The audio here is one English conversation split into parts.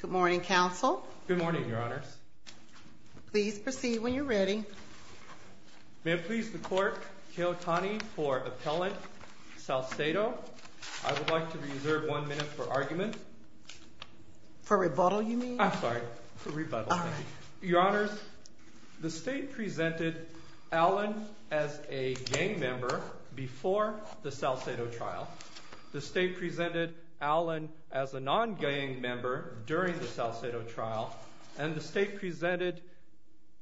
Good morning, Counsel. Good morning, Your Honors. Please proceed when you're ready. May it please the Court, Keohtani for Appellant Salcedo. I would like to reserve one minute for argument. For rebuttal, you mean? I'm sorry. For rebuttal, thank you. Your Honors, the State presented Allen as a gang member before the Salcedo trial. The State presented Allen as a non-gang member during the Salcedo trial. And the State presented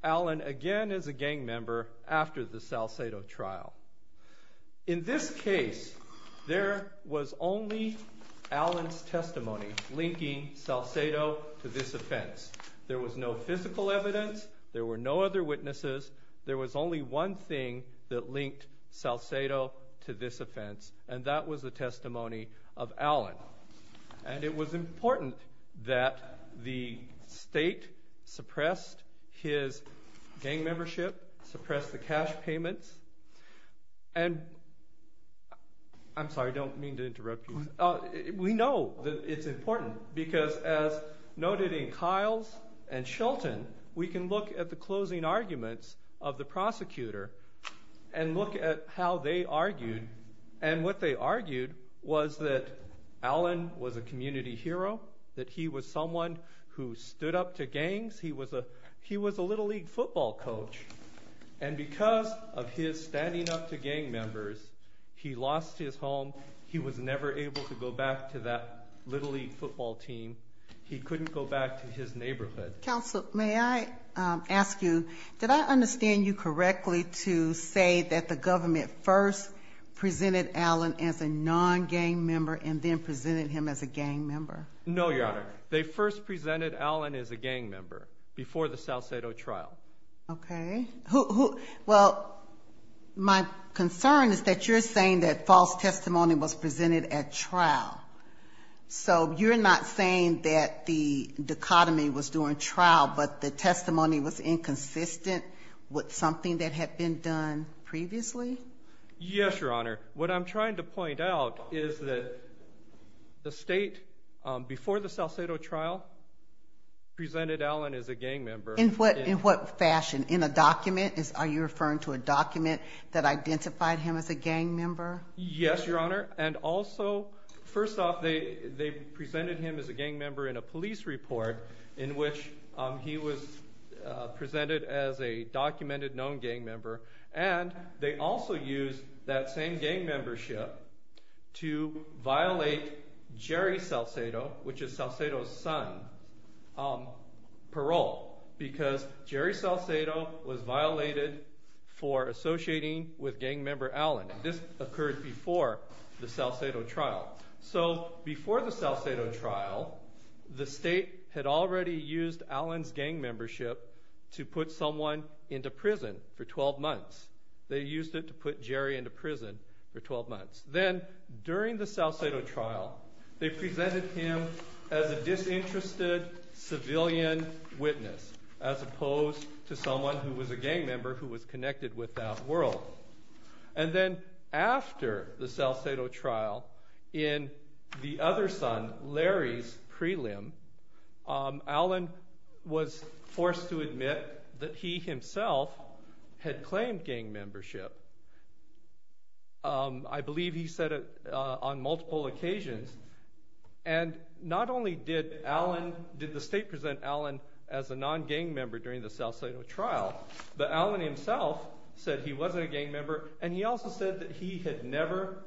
Allen again as a gang member after the Salcedo trial. In this case, there was only Allen's testimony linking Salcedo to this offense. There was no physical evidence. There were no other witnesses. There was only one thing that linked Salcedo to this offense. And that was the testimony of Allen. And it was important that the State suppressed his gang membership, suppressed the cash payments. And I'm sorry, I don't mean to interrupt you. We know that it's important because as noted in Kiles and Shilton, we can look at the closing arguments of the prosecutor and look at how they argued. And what they argued was that Allen was a community hero, that he was someone who stood up to gangs. He was a Little League football coach. And because of his standing up to gang members, he lost his home. He was never able to go back to that Little League football team. He couldn't go back to his neighborhood. Counsel, may I ask you, did I understand you correctly to say that the government first presented Allen as a non-gang member and then presented him as a gang member? No, Your Honor. They first presented Allen as a gang member before the Salcedo trial. Okay. Well, my concern is that you're saying that false testimony was presented at trial. So you're not saying that the dichotomy was during trial, but the testimony was inconsistent with something that had been done previously? Yes, Your Honor. What I'm trying to point out is that the state, before the Salcedo trial, presented Allen as a gang member. In what fashion? In a document? Are you referring to a document that identified him as a gang member? Yes, Your Honor. And also, first off, they presented him as a gang member in a police report in which he was presented as a documented known gang member. And they also used that same gang membership to violate Jerry Salcedo, which is Salcedo's son, parole because Jerry Salcedo was violated for associating with gang member Allen. This occurred before the Salcedo trial. So before the Salcedo trial, the state had already used Allen's gang membership to put someone into prison for 12 months. They used it to put Jerry into prison for 12 months. Then, during the Salcedo trial, they presented him as a disinterested civilian witness as opposed to someone who was a gang member who was connected with that world. And then after the Salcedo trial, in the other son, Larry's prelim, Allen was forced to admit that he himself had claimed gang membership. I believe he said it on multiple occasions. And not only did the state present Allen as a non-gang member during the Salcedo trial, but Allen himself said he wasn't a gang member, and he also said that he had never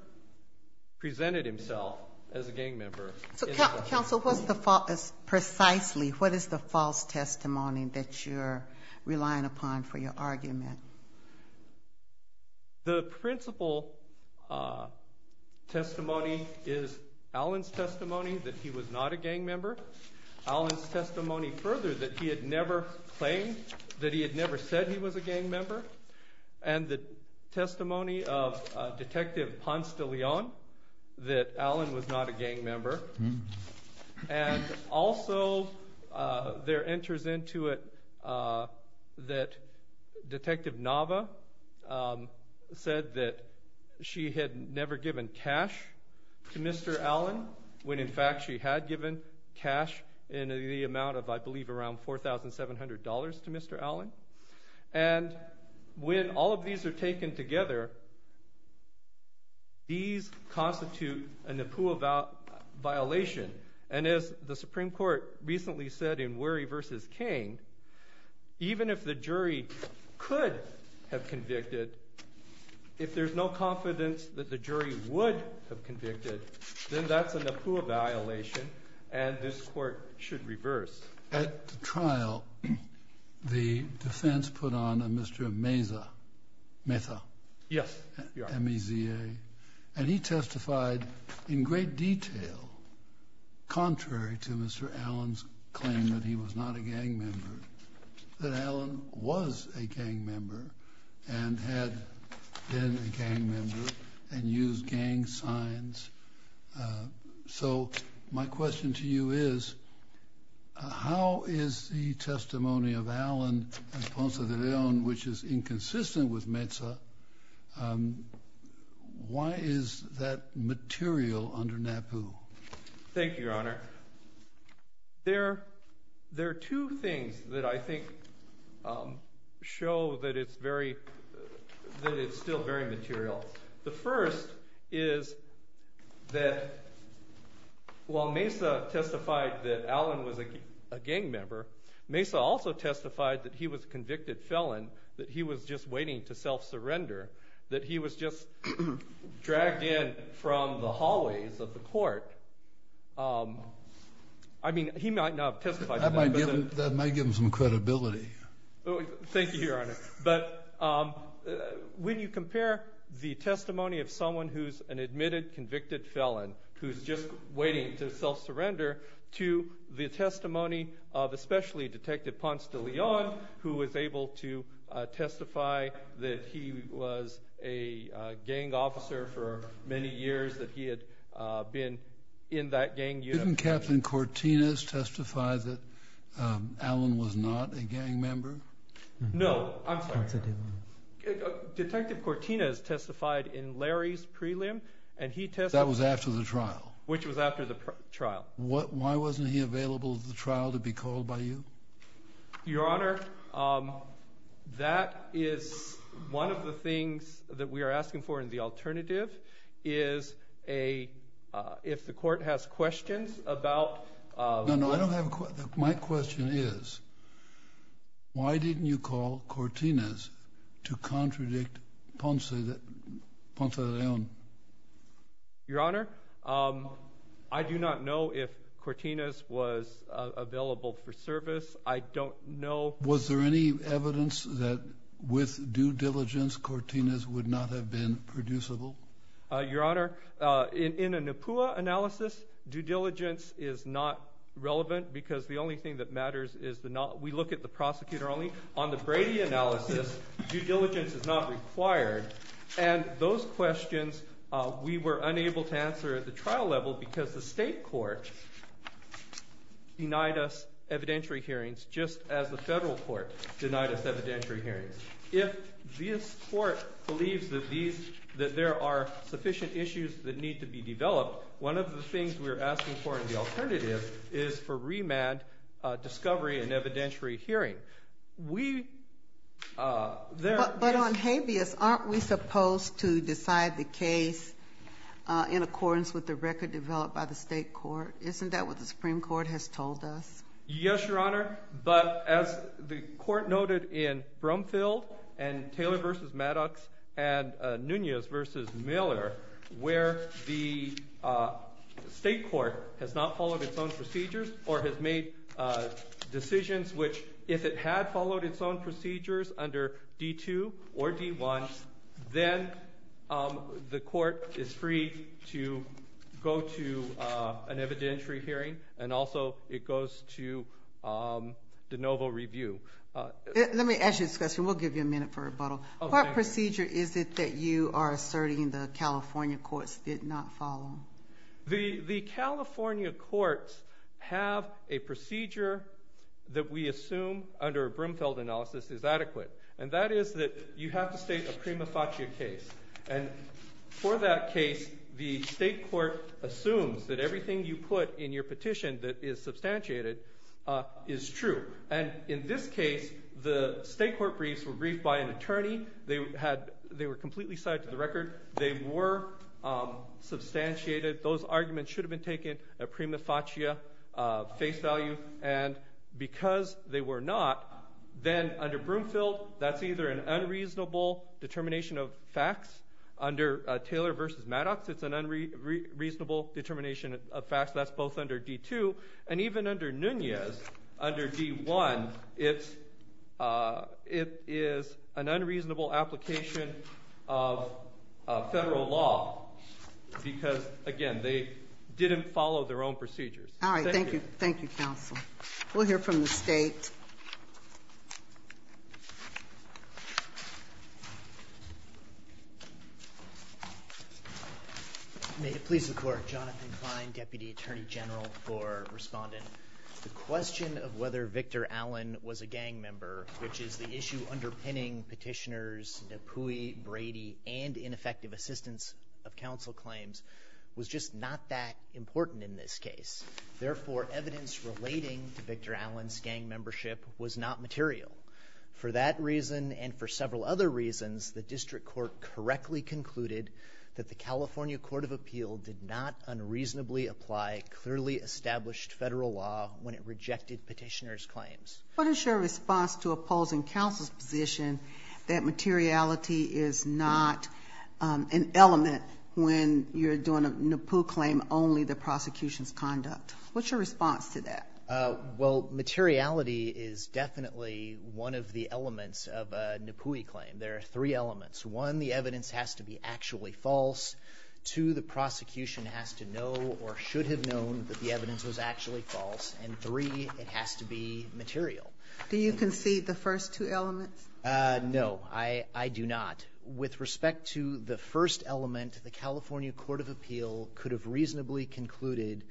presented himself as a gang member. So, counsel, precisely what is the false testimony that you're relying upon for your argument? The principal testimony is Allen's testimony that he was not a gang member, Allen's testimony further that he had never claimed that he had never said he was a gang member, and the testimony of Detective Ponce de Leon that Allen was not a gang member. And also there enters into it that Detective Nava said that she had never given cash to Mr. Allen when, in fact, she had given cash in the amount of, I believe, around $4,700 to Mr. Allen. And when all of these are taken together, these constitute a Nipua violation. And as the Supreme Court recently said in Wherry v. Kane, even if the jury could have convicted, if there's no confidence that the jury would have convicted, then that's a Nipua violation, and this Court should reverse. At the trial, the defense put on a Mr. Meza, M-E-Z-A, and he testified in great detail, contrary to Mr. Allen's claim that he was not a gang member, that Allen was a gang member and had been a gang member and used gang signs. So my question to you is, how is the testimony of Allen and Ponce de Leon, which is inconsistent with Meza, why is that material under NAPU? Thank you, Your Honor. There are two things that I think show that it's still very material. The first is that while Meza testified that Allen was a gang member, Meza also testified that he was a convicted felon, that he was just waiting to self-surrender, that he was just dragged in from the hallways of the court. I mean, he might not have testified to that. That might give him some credibility. Thank you, Your Honor. But when you compare the testimony of someone who's an admitted convicted felon who's just waiting to self-surrender to the testimony of especially Detective Ponce de Leon, who was able to testify that he was a gang officer for many years, that he had been in that gang unit. Didn't Captain Cortinez testify that Allen was not a gang member? No. I'm sorry. Detective Cortinez testified in Larry's prelim, and he testified. That was after the trial. Which was after the trial. Why wasn't he available at the trial to be called by you? Your Honor, that is one of the things that we are asking for in the alternative, is if the court has questions about— No, no. My question is, why didn't you call Cortinez to contradict Ponce de Leon? Your Honor, I do not know if Cortinez was available for service. I don't know— Was there any evidence that with due diligence, Cortinez would not have been producible? Your Honor, in a NEPUA analysis, due diligence is not relevant because the only thing that matters is the— we look at the prosecutor only. On the Brady analysis, due diligence is not required. And those questions, we were unable to answer at the trial level because the state court denied us evidentiary hearings, just as the federal court denied us evidentiary hearings. If this court believes that there are sufficient issues that need to be developed, one of the things we are asking for in the alternative is for remand, discovery, and evidentiary hearing. We— But on habeas, aren't we supposed to decide the case in accordance with the record developed by the state court? Isn't that what the Supreme Court has told us? Yes, Your Honor, but as the court noted in Brumfield and Taylor v. Maddox and Nunez v. Miller, where the state court has not followed its own procedures or has made decisions which, if it had followed its own procedures under D-2 or D-1, then the court is free to go to an evidentiary hearing, and also it goes to de novo review. Let me ask you this question. We'll give you a minute for rebuttal. What procedure is it that you are asserting the California courts did not follow? The California courts have a procedure that we assume under a Brumfield analysis is adequate, and that is that you have to state a prima facie case. And for that case, the state court assumes that everything you put in your petition that is substantiated is true. And in this case, the state court briefs were briefed by an attorney. They were completely side to the record. They were substantiated. Those arguments should have been taken at prima facie face value. And because they were not, then under Brumfield, that's either an unreasonable determination of facts. Under Taylor v. Maddox, it's an unreasonable determination of facts. That's both under D-2. And even under Nunez, under D-1, it's an unreasonable application of Federal law because, again, they didn't follow their own procedures. Thank you. Thank you, counsel. We'll hear from the State. May it please the Court. Jonathan Klein, Deputy Attorney General for Respondent. The question of whether Victor Allen was a gang member, which is the issue underpinning petitioners Napui, Brady, and ineffective assistance of counsel claims, was just not that important in this case. Therefore, evidence relating to Victor Allen's gang membership was not material. For that reason and for several other reasons, the district court correctly concluded that the California Court of Appeal did not unreasonably apply clearly established Federal law when it rejected petitioners' claims. What is your response to opposing counsel's position that materiality is not an element when you're doing a Napui claim, only the prosecution's conduct? What's your response to that? Well, materiality is definitely one of the elements of a Napui claim. There are three elements. One, the evidence has to be actually false. Two, the prosecution has to know or should have known that the evidence was actually false. And three, it has to be material. Do you concede the first two elements? No, I do not. With respect to the first element, the California Court of Appeal could have reasonably concluded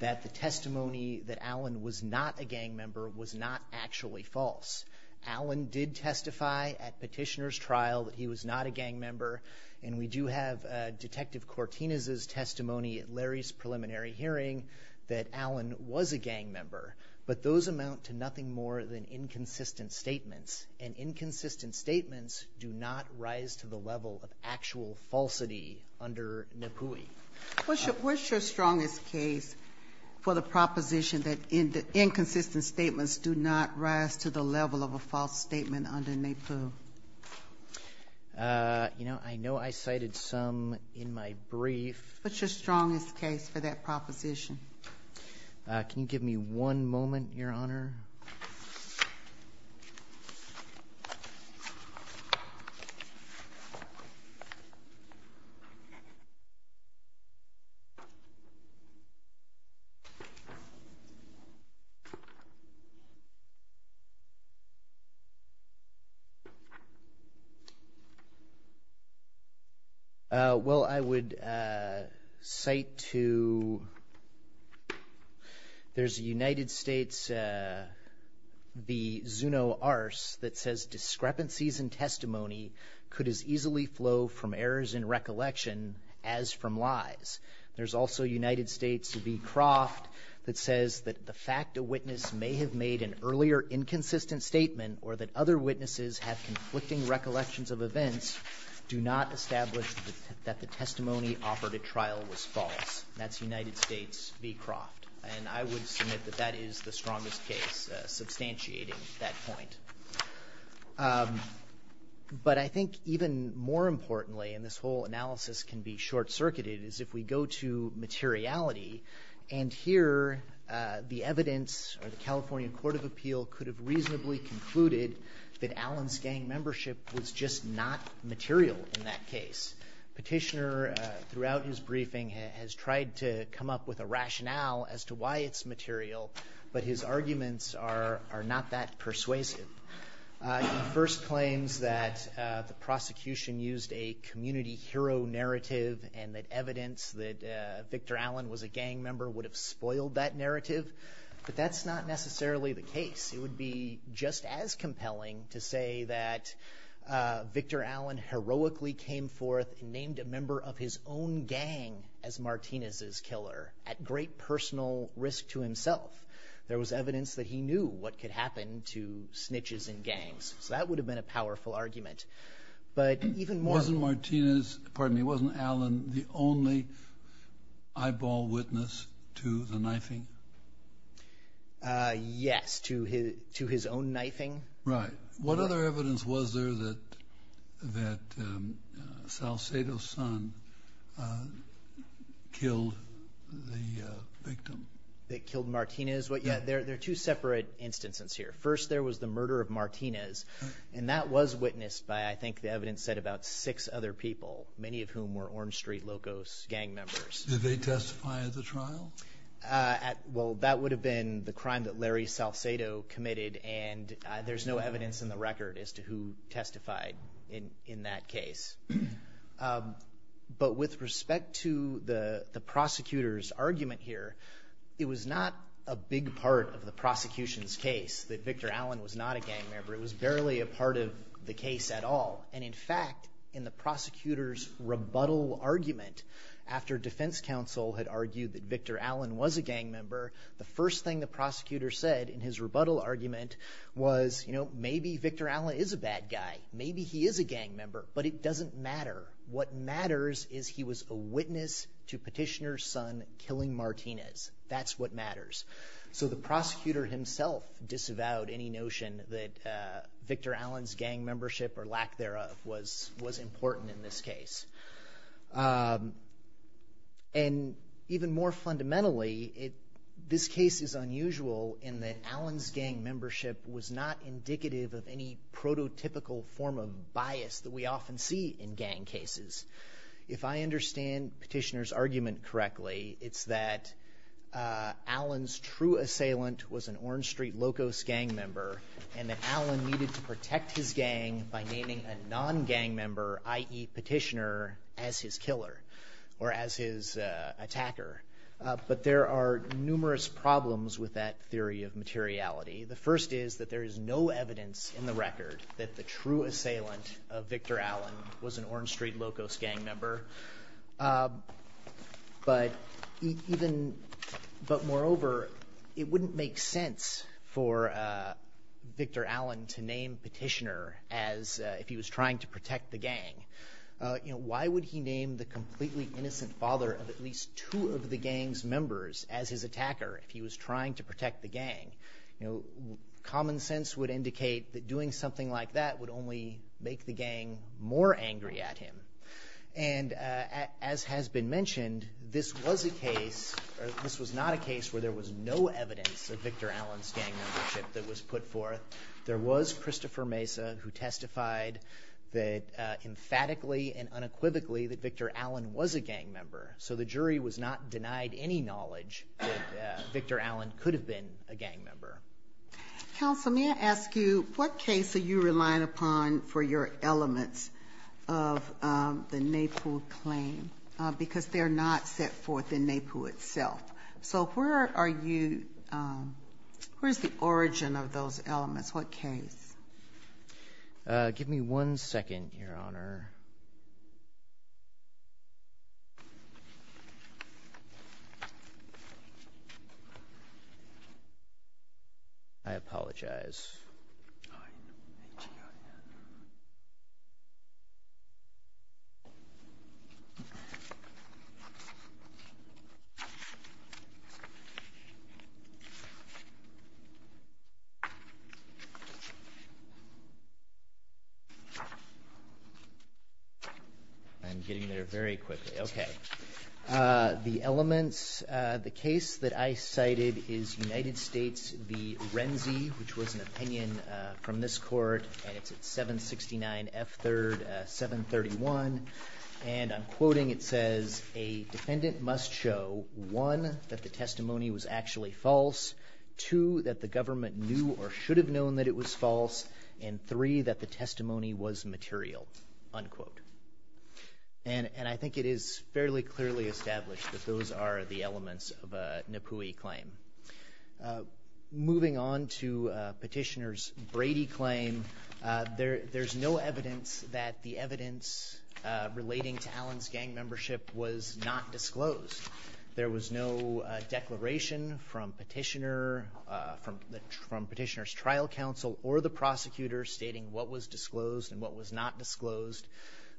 that the testimony that Allen was not a gang member was not actually false. Allen did testify at petitioner's trial that he was not a gang member, and we do have Detective Cortinez's testimony at Larry's preliminary hearing that Allen was a gang member. But those amount to nothing more than inconsistent statements, and inconsistent statements do not rise to the level of actual falsity under Napui. What's your strongest case for the proposition that inconsistent statements do not rise to the level of a false statement under Napui? You know, I know I cited some in my brief. What's your strongest case for that proposition? Can you give me one moment, Your Honor? Sure. Well, I would cite to, there's a United States, the Zuno-Ars, that says discrepancies in testimony could as easily flow from errors in recollection as from lies. There's also United States v. Croft that says that the fact a witness may have made an earlier inconsistent statement or that other witnesses have conflicting recollections of events do not establish that the testimony offered at trial was false. That's United States v. Croft. And I would submit that that is the strongest case, substantiating that point. But I think even more importantly, and this whole analysis can be short-circuited, is if we go to materiality, and here the evidence, or the California Court of Appeal, could have reasonably concluded that Allen's gang membership was just not material in that case. Petitioner, throughout his briefing, has tried to come up with a rationale as to why it's material, but his arguments are not that persuasive. He first claims that the prosecution used a community hero narrative and that evidence that Victor Allen was a gang member would have spoiled that narrative, but that's not necessarily the case. It would be just as compelling to say that Victor Allen heroically came forth and named a member of his own gang as Martinez's killer at great personal risk to himself. There was evidence that he knew what could happen to snitches and gangs, so that would have been a powerful argument. Wasn't Allen the only eyeball witness to the knifing? Yes, to his own knifing. Right. What other evidence was there that Salcedo's son killed the victim? That killed Martinez? There are two separate instances here. First, there was the murder of Martinez, and that was witnessed by, I think, the evidence said about six other people, many of whom were Orange Street Locos gang members. Did they testify at the trial? Well, that would have been the crime that Larry Salcedo committed, and there's no evidence in the record as to who testified in that case. But with respect to the prosecutor's argument here, it was not a big part of the prosecution's case that Victor Allen was not a gang member. It was barely a part of the case at all. And, in fact, in the prosecutor's rebuttal argument, after defense counsel had argued that Victor Allen was a gang member, the first thing the prosecutor said in his rebuttal argument was, you know, maybe Victor Allen is a bad guy, maybe he is a gang member, but it doesn't matter. What matters is he was a witness to Petitioner's son killing Martinez. That's what matters. So the prosecutor himself disavowed any notion that Victor Allen's gang membership or lack thereof was important in this case. And even more fundamentally, this case is unusual in that Allen's gang membership was not indicative of any prototypical form of bias that we often see in gang cases. If I understand Petitioner's argument correctly, it's that Allen's true assailant was an Orange Street Locos gang member, and that Allen needed to protect his gang by naming a non-gang member, i.e. Petitioner, as his killer or as his attacker. But there are numerous problems with that theory of materiality. The first is that there is no evidence in the record that the true assailant of Victor Allen was an Orange Street Locos gang member. But moreover, it wouldn't make sense for Victor Allen to name Petitioner as if he was trying to protect the gang. Why would he name the completely innocent father of at least two of the gang's members as his attacker if he was trying to protect the gang? Common sense would indicate that doing something like that would only make the gang more angry at him. And as has been mentioned, this was not a case where there was no evidence of Victor Allen's gang membership that was put forth. There was Christopher Mesa who testified emphatically and unequivocally that Victor Allen was a gang member. So the jury was not denied any knowledge that Victor Allen could have been a gang member. Counsel, may I ask you what case are you relying upon for your elements of the NAPU claim? Because they're not set forth in NAPU itself. So where are you – where is the origin of those elements? What case? Give me one second, Your Honor. I apologize. I'm getting there very quickly. Okay. The elements – the case that I cited is United States v. Renzi, which was an opinion from this court, and it's at 769 F. 3rd, 731. And I'm quoting. It says, a defendant must show, one, that the testimony was actually false, two, that the government knew or should have known that it was false, and three, that the testimony was material, unquote. And I think it is fairly clearly established that those are the elements of a NAPUI claim. Moving on to Petitioner's Brady claim, there's no evidence that the evidence relating to Allen's gang membership was not disclosed. There was no declaration from Petitioner's trial counsel or the prosecutor stating what was disclosed and what was not disclosed.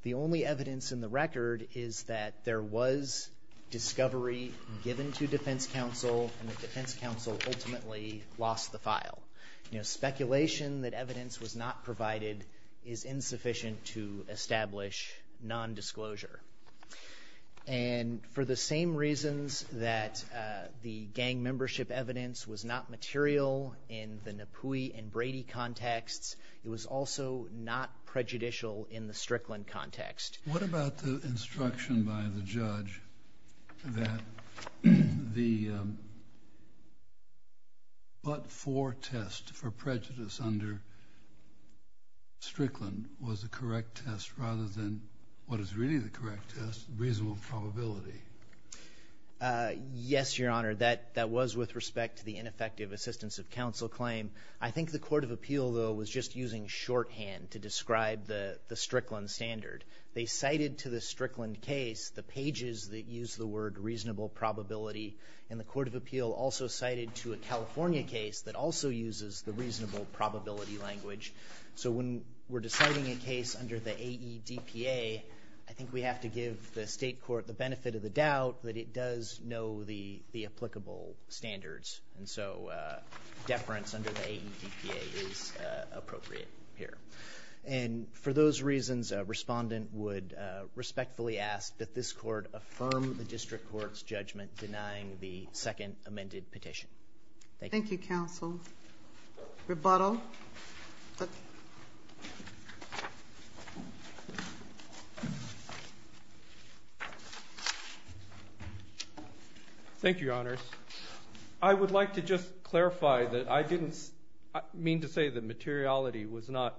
The only evidence in the record is that there was discovery given to defense counsel, and the defense counsel ultimately lost the file. You know, speculation that evidence was not provided is insufficient to establish nondisclosure. And for the same reasons that the gang membership evidence was not material in the NAPUI and Brady contexts, it was also not prejudicial in the Strickland context. What about the instruction by the judge that the but-for test for prejudice under Strickland was the correct test rather than what is really the correct test, reasonable probability? Yes, Your Honor, that was with respect to the ineffective assistance of counsel claim. I think the court of appeal, though, was just using shorthand to describe the Strickland standard. They cited to the Strickland case the pages that use the word reasonable probability, and the court of appeal also cited to a California case that also uses the reasonable probability language. So when we're deciding a case under the AEDPA, I think we have to give the state court the benefit of the doubt that it does know the applicable standards, and so deference under the AEDPA is appropriate here. And for those reasons, a respondent would respectfully ask that this court affirm the district court's judgment denying the second amended petition. Thank you. Thank you, counsel. Rebuttal. Thank you, Your Honors. I would like to just clarify that I didn't mean to say that materiality was not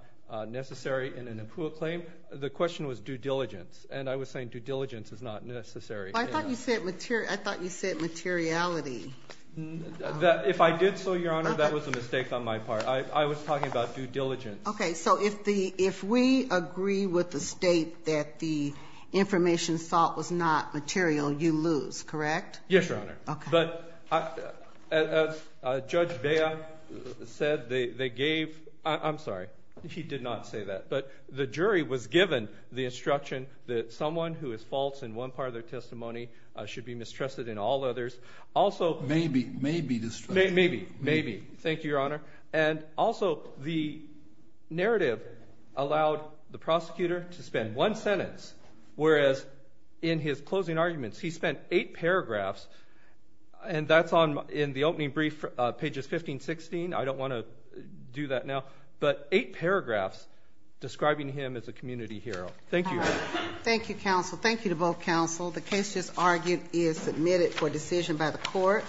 necessary in an APUA claim. The question was due diligence, and I was saying due diligence is not necessary. I thought you said materiality. If I did so, Your Honor, that was a mistake on my part. I was talking about due diligence. Okay. So if we agree with the state that the information thought was not material, you lose, correct? Yes, Your Honor. Okay. But as Judge Bea said, they gave – I'm sorry. He did not say that. But the jury was given the instruction that someone who is false in one part of their testimony should be mistrusted in all others. Maybe. Maybe. Maybe. Thank you, Your Honor. And also, the narrative allowed the prosecutor to spend one sentence, whereas in his closing arguments, he spent eight paragraphs, and that's in the opening brief, pages 15-16. I don't want to do that now. But eight paragraphs describing him as a community hero. Thank you. Thank you, counsel. Thank you to both counsel. The case just argued is submitted for decision by the court.